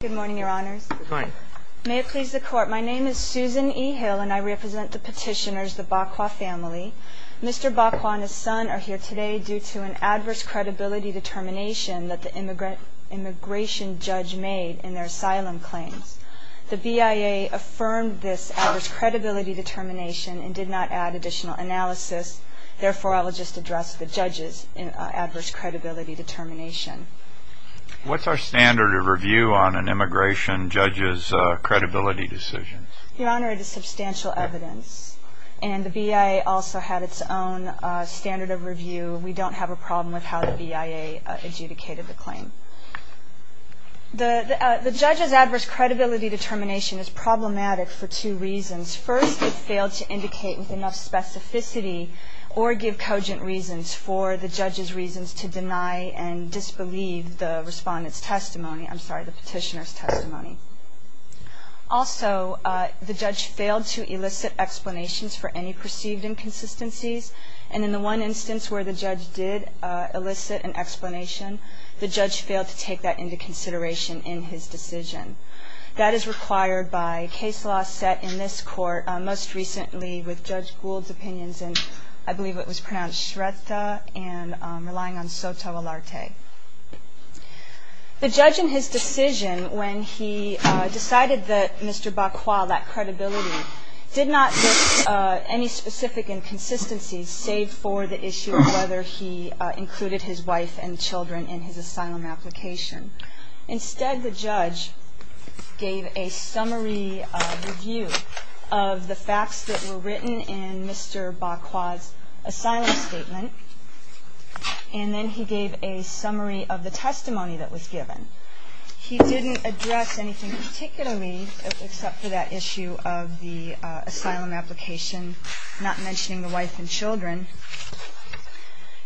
Good morning, your honors. May it please the court, my name is Susan E. Hill and I represent the petitioners, the Baquia family. Mr. Baquia and his son are here today due to an adverse credibility determination that the immigration judge made in their asylum claims. The BIA affirmed this adverse credibility determination and did not add additional analysis. Therefore, I will just address the judge's adverse credibility determination. What's our standard of review on an immigration judge's credibility decisions? Your honor, it is substantial evidence and the BIA also had its own standard of review. We don't have a problem with how the BIA adjudicated the claim. The judge's adverse credibility determination is problematic for two reasons. First, it failed to indicate with enough specificity or give cogent reasons for the judge's reasons to deny and disbelieve the respondent's testimony. I'm sorry, the petitioner's testimony. Also, the judge failed to elicit explanations for any perceived inconsistencies. And in the one instance where the judge did elicit an explanation, the judge failed to take that into consideration in his decision. That is required by case law set in this court most recently with Judge Gould's opinions, and I believe it was pronounced Shretta and relying on Soto-Alarte. The judge in his decision when he decided that Mr. Baquia lacked credibility did not list any specific inconsistencies, save for the issue of whether he included his wife and children in his asylum application. Instead, the judge gave a summary review of the facts that were written in Mr. Baquia's asylum statement, and then he gave a summary of the testimony that was given. He didn't address anything particularly except for that issue of the asylum application, not mentioning the wife and children.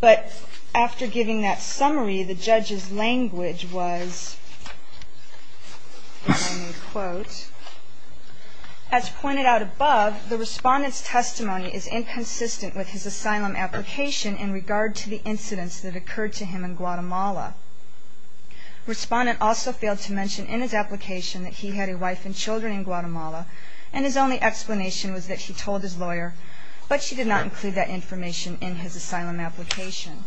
But after giving that summary, the judge's language was, and I made a quote, as pointed out above, the respondent's testimony is inconsistent with his asylum application in regard to the incidents that occurred to him in Guatemala. Respondent also failed to mention in his application that he had a wife and children in Guatemala, and his only explanation was that he told his lawyer, but she did not include that information in his asylum application.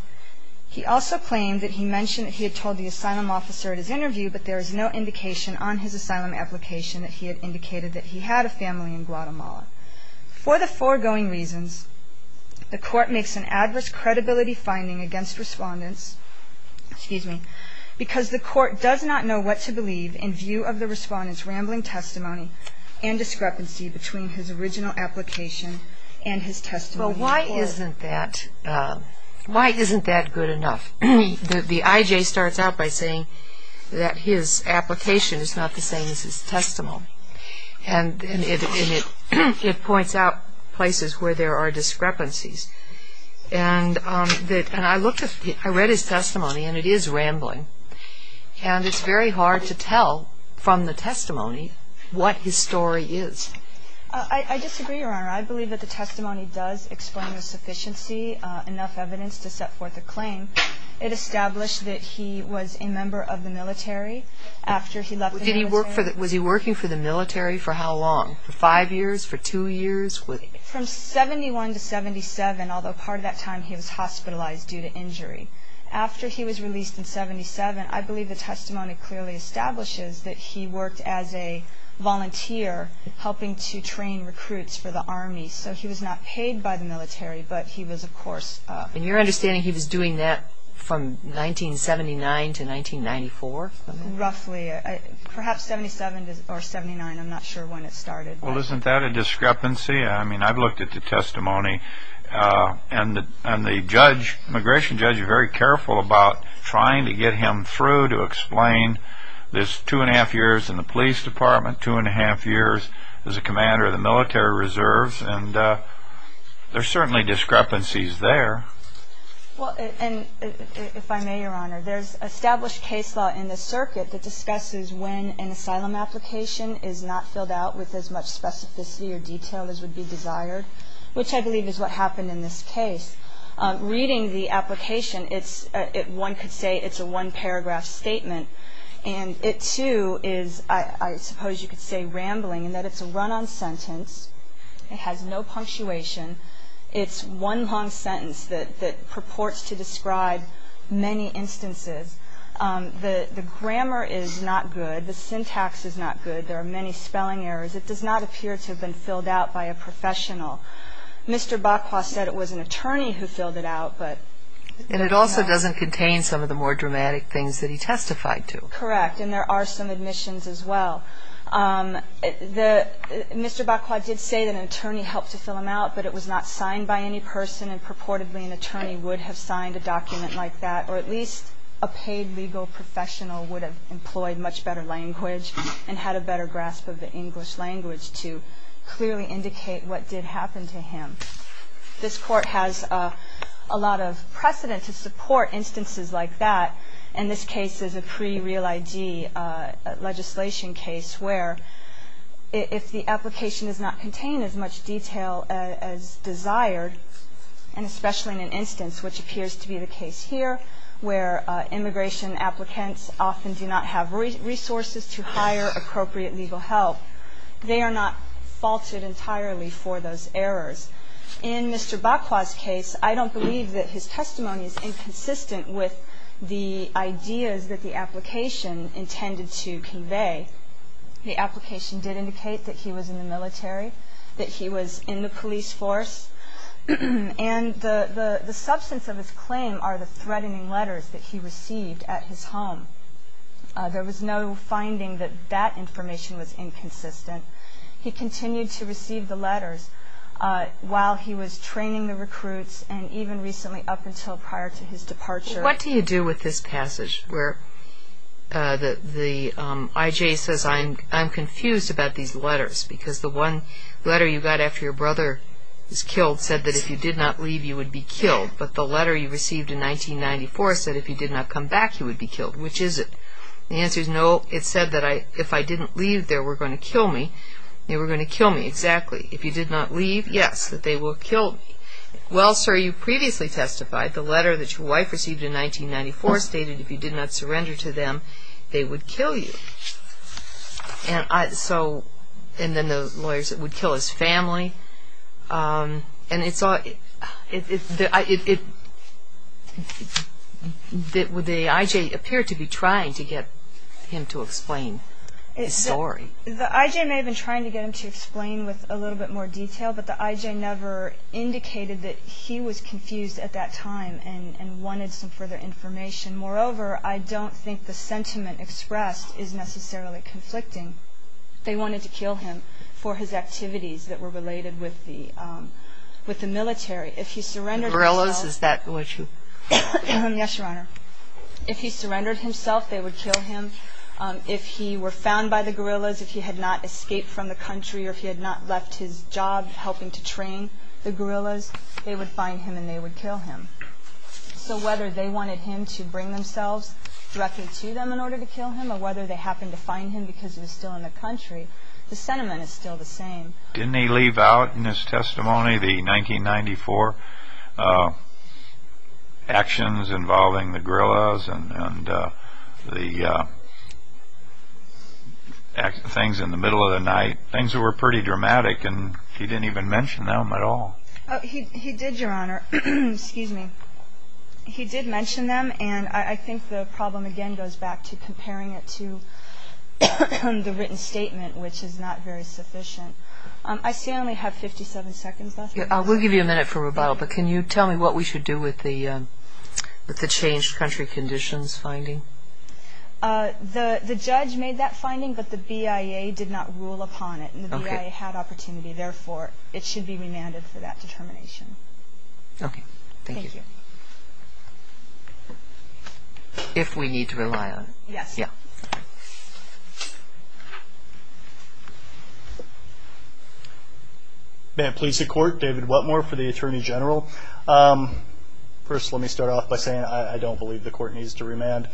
He also claimed that he mentioned that he had told the asylum officer at his interview, but there is no indication on his asylum application that he had indicated that he had a family in Guatemala. For the foregoing reasons, the court makes an adverse credibility finding against respondents, excuse me, because the court does not know what to believe in view of the respondent's rambling testimony and discrepancy between his original application and his testimony. Well, why isn't that good enough? The IJ starts out by saying that his application is not the same as his testimony, and it points out places where there are discrepancies. And I read his testimony, and it is rambling, and it's very hard to tell from the testimony what his story is. I disagree, Your Honor. I believe that the testimony does explain the sufficiency, enough evidence to set forth a claim. It established that he was a member of the military after he left the military. Was he working for the military for how long? For five years? For two years? From 71 to 77, although part of that time he was hospitalized due to injury. After he was released in 77, I believe the testimony clearly establishes that he worked as a volunteer, helping to train recruits for the Army. So he was not paid by the military, but he was, of course, And your understanding, he was doing that from 1979 to 1994? Roughly. Perhaps 77 or 79. I'm not sure when it started. Well, isn't that a discrepancy? I mean, I've looked at the testimony, and the immigration judge is very careful about trying to get him through to explain. There's two and a half years in the police department, two and a half years as a commander of the military reserves, and there are certainly discrepancies there. Well, and if I may, Your Honor, there's established case law in the circuit that discusses when an asylum application is not filled out with as much specificity or detail as would be desired, which I believe is what happened in this case. Reading the application, one could say it's a one-paragraph statement, and it too is, I suppose you could say, rambling in that it's a run-on sentence. It has no punctuation. It's one long sentence that purports to describe many instances. The grammar is not good. The syntax is not good. There are many spelling errors. It does not appear to have been filled out by a professional. Mr. Botqua said it was an attorney who filled it out. And it also doesn't contain some of the more dramatic things that he testified to. Correct, and there are some admissions as well. Mr. Botqua did say that an attorney helped to fill them out, but it was not signed by any person, and purportedly an attorney would have signed a document like that, or at least a paid legal professional would have employed much better language and had a better grasp of the English language to clearly indicate what did happen to him. This Court has a lot of precedent to support instances like that, and this case is a pre-real ID legislation case where if the application does not contain as much detail as desired, and especially in an instance which appears to be the case here where immigration applicants often do not have resources to hire appropriate legal help, they are not faulted entirely for those errors. In Mr. Botqua's case, I don't believe that his testimony is inconsistent with the ideas that the application intended to convey. The application did indicate that he was in the military, that he was in the police force, and the substance of his claim are the threatening letters that he received at his home. There was no finding that that information was inconsistent. He continued to receive the letters while he was training the recruits, and even recently up until prior to his departure. What do you do with this passage where the I.J. says, I'm confused about these letters because the one letter you got after your brother was killed said that if you did not leave you would be killed, but the letter you received in 1994 said if you did not come back you would be killed. Which is it? The answer is no. It said that if I didn't leave they were going to kill me. They were going to kill me, exactly. If you did not leave, yes, that they will kill me. Well, sir, you previously testified the letter that your wife received in 1994 stated if you did not surrender to them they would kill you. And then the lawyer said it would kill his family. The I.J. appeared to be trying to get him to explain his story. The I.J. may have been trying to get him to explain with a little bit more detail, but the I.J. never indicated that he was confused at that time and wanted some further information. Moreover, I don't think the sentiment expressed is necessarily conflicting. They wanted to kill him for his activities that were related with the military. If he surrendered himself, they would kill him. If he were found by the guerrillas, if he had not escaped from the country or if he had not left his job helping to train the guerrillas, they would find him and they would kill him. So whether they wanted him to bring themselves directly to them in order to kill him or whether they happened to find him because he was still in the country, the sentiment is still the same. Didn't he leave out in his testimony the 1994 actions involving the guerrillas and the things in the middle of the night, things that were pretty dramatic, and he didn't even mention them at all? He did, Your Honor. Excuse me. He did mention them, and I think the problem, again, goes back to comparing it to the written statement, which is not very sufficient. I still only have 57 seconds left. I will give you a minute for rebuttal, but can you tell me what we should do with the changed country conditions finding? The judge made that finding, but the BIA did not rule upon it, and the BIA had opportunity. Therefore, it should be remanded for that determination. Okay. Thank you. If we need to rely on it. Yes. May it please the Court. David Whatmore for the Attorney General. First, let me start off by saying I don't believe the Court needs to remand.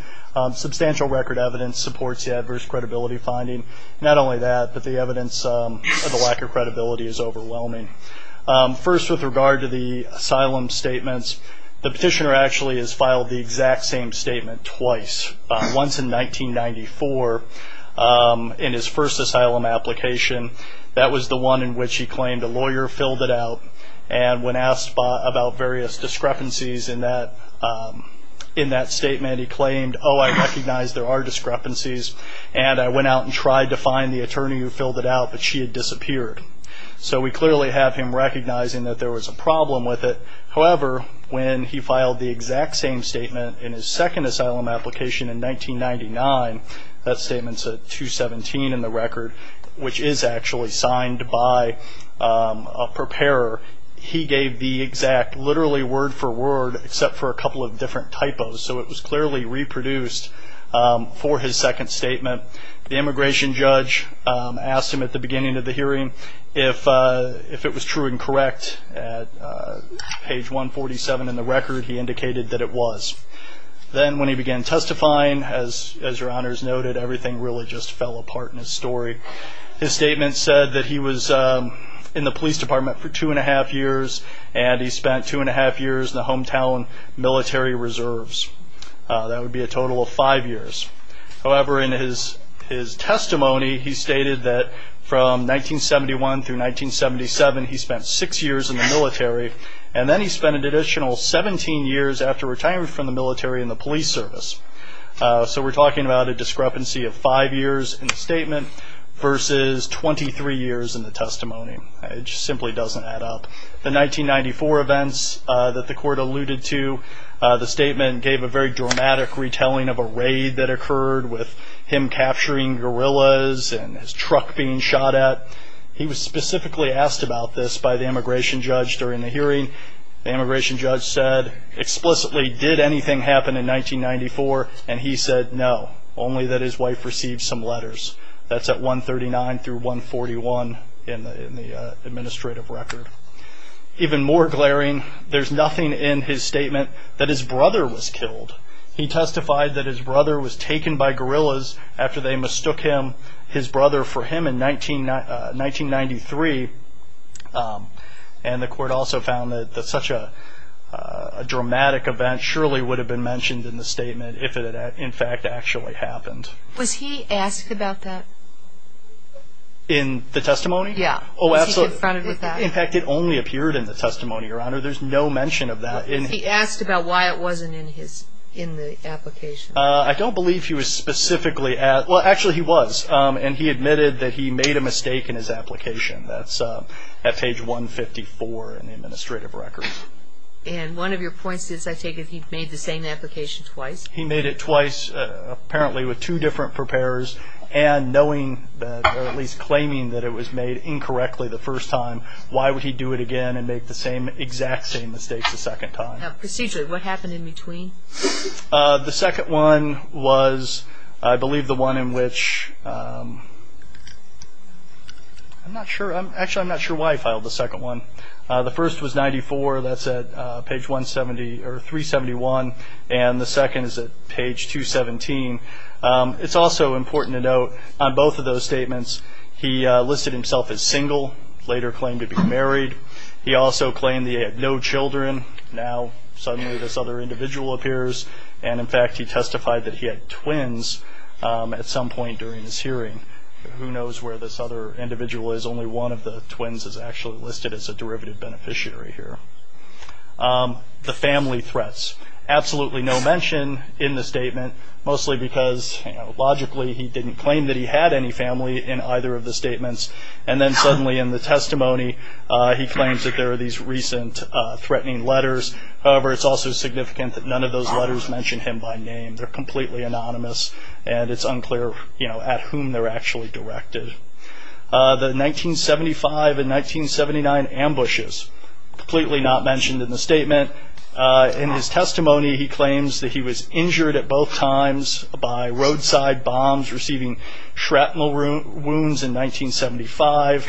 Substantial record evidence supports the adverse credibility finding. Not only that, but the evidence of the lack of credibility is overwhelming. First, with regard to the asylum statements, the petitioner actually has filed the exact same statement twice, once in 1994 in his first asylum application. That was the one in which he claimed a lawyer filled it out, and when asked about various discrepancies in that statement, he claimed, oh, I recognize there are discrepancies, and I went out and tried to find the attorney who filled it out, but she had disappeared. So we clearly have him recognizing that there was a problem with it. However, when he filed the exact same statement in his second asylum application in 1999, that statement's at 217 in the record, which is actually signed by a preparer, he gave the exact literally word for word, except for a couple of different typos. So it was clearly reproduced for his second statement. The immigration judge asked him at the beginning of the hearing if it was true and correct at page 147 in the record. He indicated that it was. Then when he began testifying, as your honors noted, everything really just fell apart in his story. His statement said that he was in the police department for two and a half years, and he spent two and a half years in the hometown military reserves. That would be a total of five years. However, in his testimony, he stated that from 1971 through 1977, he spent six years in the military, and then he spent an additional 17 years after retirement from the military in the police service. So we're talking about a discrepancy of five years in the statement versus 23 years in the testimony. It just simply doesn't add up. The 1994 events that the court alluded to, the statement gave a very dramatic retelling of a raid that occurred with him capturing guerrillas and his truck being shot at. He was specifically asked about this by the immigration judge during the hearing. The immigration judge said, explicitly, did anything happen in 1994? And he said, no, only that his wife received some letters. That's at 139 through 141 in the administrative record. Even more glaring, there's nothing in his statement that his brother was killed. He testified that his brother was taken by guerrillas after they mistook his brother for him in 1993. And the court also found that such a dramatic event surely would have been mentioned in the statement if it had, in fact, actually happened. Was he asked about that? In the testimony? Yeah. Was he confronted with that? In fact, it only appeared in the testimony, Your Honor. There's no mention of that. Was he asked about why it wasn't in the application? I don't believe he was specifically asked. Well, actually, he was, and he admitted that he made a mistake in his application. That's at page 154 in the administrative record. And one of your points is, I take it, he made the same application twice? He made it twice, apparently with two different preparers, and knowing that, or at least claiming that it was made incorrectly the first time, why would he do it again and make the exact same mistake the second time? Procedurally, what happened in between? The second one was, I believe, the one in which I'm not sure. Actually, I'm not sure why he filed the second one. The first was 94. That's at page 371. And the second is at page 217. It's also important to note, on both of those statements, he listed himself as single, later claimed to be married. He also claimed he had no children. Now, suddenly, this other individual appears. And, in fact, he testified that he had twins at some point during this hearing. Who knows where this other individual is. Only one of the twins is actually listed as a derivative beneficiary here. The family threats. Absolutely no mention in the statement, mostly because logically he didn't claim that he had any family in either of the statements. And then, suddenly, in the testimony, he claims that there are these recent threatening letters. However, it's also significant that none of those letters mention him by name. They're completely anonymous, and it's unclear at whom they're actually directed. The 1975 and 1979 ambushes. Completely not mentioned in the statement. In his testimony, he claims that he was injured at both times by roadside bombs, receiving shrapnel wounds in 1975.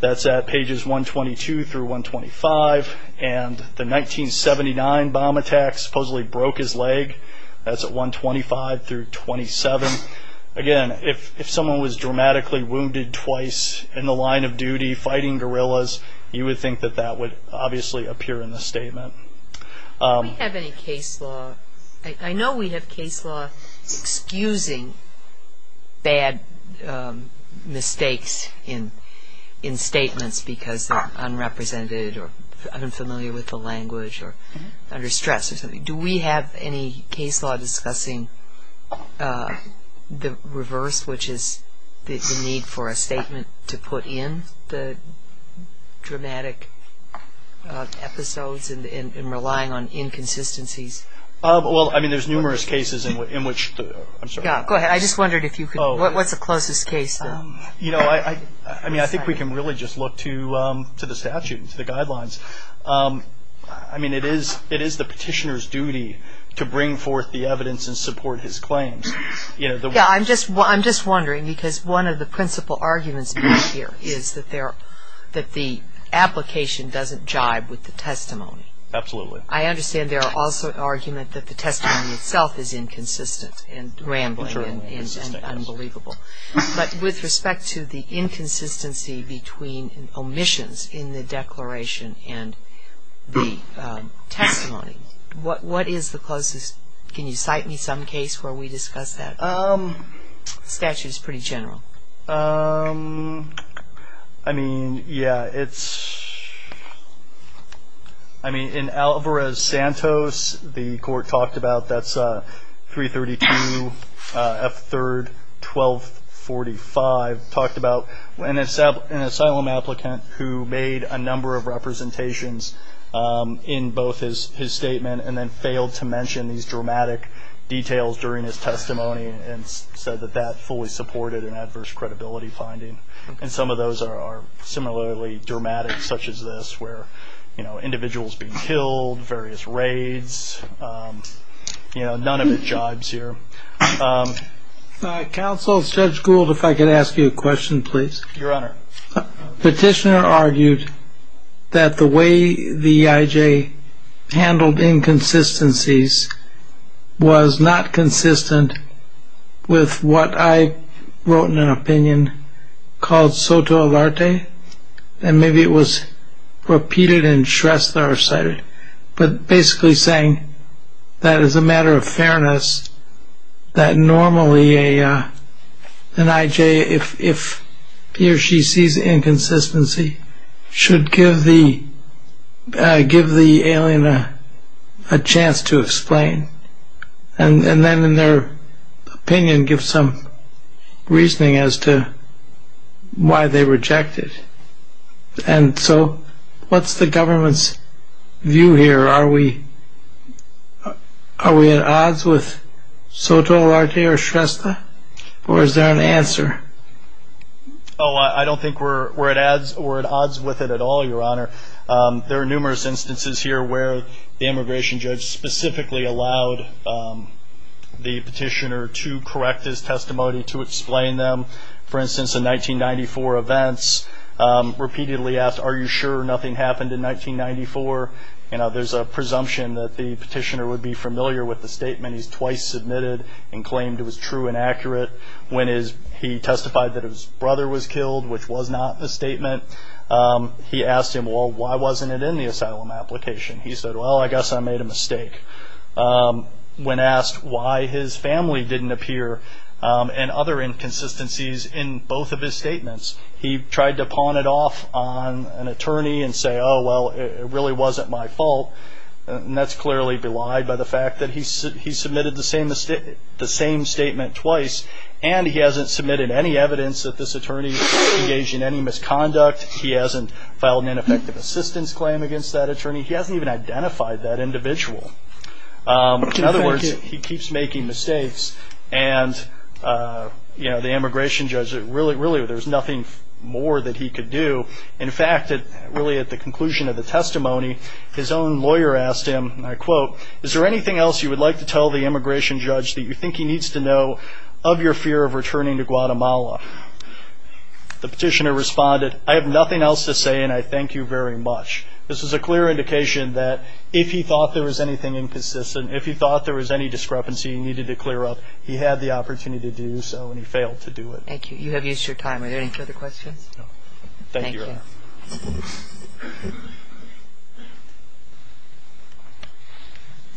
That's at pages 122 through 125. And the 1979 bomb attack supposedly broke his leg. That's at 125 through 27. Again, if someone was dramatically wounded twice in the line of duty fighting guerrillas, you would think that that would obviously appear in the statement. Do we have any case law? I know we have case law excusing bad mistakes in statements because they're unrepresented or unfamiliar with the language or under stress or something. Do we have any case law discussing the reverse, which is the need for a statement to put in the dramatic episodes and relying on inconsistencies? Well, I mean, there's numerous cases in which the- Yeah, go ahead. I just wondered if you could- What's the closest case, though? I mean, I think we can really just look to the statute and to the guidelines. I mean, it is the petitioner's duty to bring forth the evidence and support his claims. Yeah, I'm just wondering because one of the principal arguments here is that the application doesn't jibe with the testimony. Absolutely. I understand there are also arguments that the testimony itself is inconsistent and rambling and unbelievable. But with respect to the inconsistency between omissions in the declaration and the testimony, what is the closest? Can you cite me some case where we discuss that? The statute is pretty general. I mean, yeah, it's- I mean, in Alvarez-Santos, the court talked about, that's 332 F. 3rd, 1245, talked about an asylum applicant who made a number of representations in both his statement and then failed to mention these dramatic details during his testimony and said that that fully supported an adverse credibility finding. And some of those are similarly dramatic, such as this, where individuals being killed, various raids. None of it jibes here. Counsel, Judge Gould, if I could ask you a question, please. Your Honor. Petitioner argued that the way the EIJ handled inconsistencies was not consistent with what I wrote in an opinion called soto alarte, and maybe it was repeated and stressed there or cited, but basically saying that as a matter of fairness that normally an EIJ, if he or she sees inconsistency, should give the alien a chance to explain and then in their opinion give some reasoning as to why they reject it. And so what's the government's view here? Are we at odds with soto alarte or shrestha, or is there an answer? Oh, I don't think we're at odds with it at all, Your Honor. There are numerous instances here where the immigration judge specifically allowed the petitioner to correct his testimony, to explain them. For instance, in 1994 events, repeatedly asked, Are you sure nothing happened in 1994? There's a presumption that the petitioner would be familiar with the statement he's twice submitted and claimed it was true and accurate. When he testified that his brother was killed, which was not a statement, he asked him, Well, why wasn't it in the asylum application? He said, Well, I guess I made a mistake. When asked why his family didn't appear and other inconsistencies in both of his statements, he tried to pawn it off on an attorney and say, Oh, well, it really wasn't my fault. And that's clearly belied by the fact that he submitted the same statement twice and he hasn't submitted any evidence that this attorney engaged in any misconduct. He hasn't filed an ineffective assistance claim against that attorney. He hasn't even identified that individual. In other words, he keeps making mistakes. And, you know, the immigration judge, really, there's nothing more that he could do. In fact, really at the conclusion of the testimony, his own lawyer asked him, and I quote, Is there anything else you would like to tell the immigration judge that you think he needs to know of your fear of returning to Guatemala? The petitioner responded, I have nothing else to say, and I thank you very much. This is a clear indication that if he thought there was anything inconsistent, if he thought there was any discrepancy he needed to clear up, he had the opportunity to do so and he failed to do it. Thank you. You have used your time. Are there any further questions? No. Thank you, Your Honor.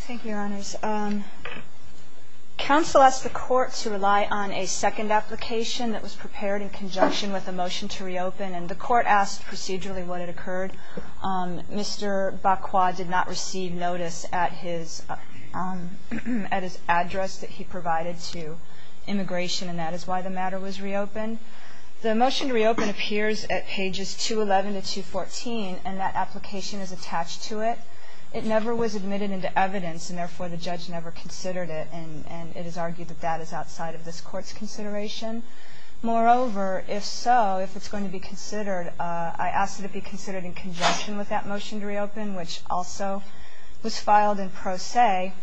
Thank you, Your Honors. Counsel asked the Court to rely on a second application that was prepared in conjunction with a motion to reopen, and the Court asked procedurally what had occurred. Mr. Bacua did not receive notice at his address that he provided to immigration, and that is why the matter was reopened. The motion to reopen appears at pages 211 to 214, and that application is attached to it. It never was admitted into evidence, and therefore the judge never considered it, and it is argued that that is outside of this Court's consideration. Moreover, if so, if it's going to be considered, I asked that it be considered in conjunction with that motion to reopen, which also was filed in pro se.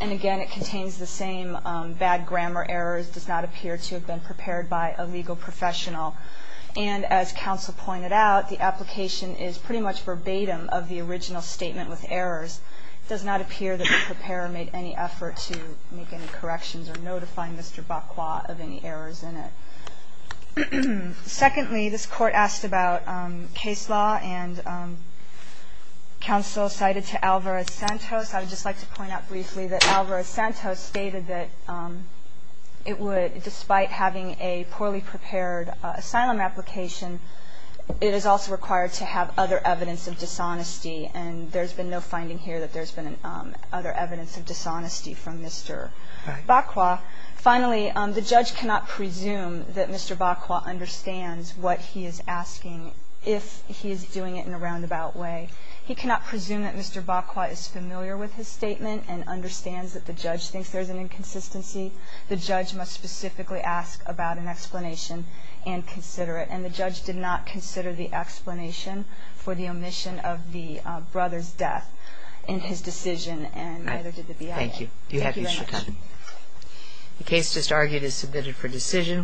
And, again, it contains the same bad grammar errors, does not appear to have been prepared by a legal professional. And as counsel pointed out, the application is pretty much verbatim of the original statement with errors. It does not appear that the preparer made any effort to make any corrections or notify Mr. Bacua of any errors in it. Secondly, this Court asked about case law, and counsel cited to Alvarez-Santos. I would just like to point out briefly that Alvarez-Santos stated that it would, despite having a poorly prepared asylum application, it is also required to have other evidence of dishonesty. And there's been no finding here that there's been other evidence of dishonesty from Mr. Bacua. Finally, the judge cannot presume that Mr. Bacua understands what he is asking if he is doing it in a roundabout way. He cannot presume that Mr. Bacua is familiar with his statement and understands that the judge thinks there's an inconsistency. The judge must specifically ask about an explanation and consider it. And the judge did not consider the explanation for the omission of the brother's death in his decision, and neither did the BIA. Thank you. You have your time. The case just argued is submitted for decision.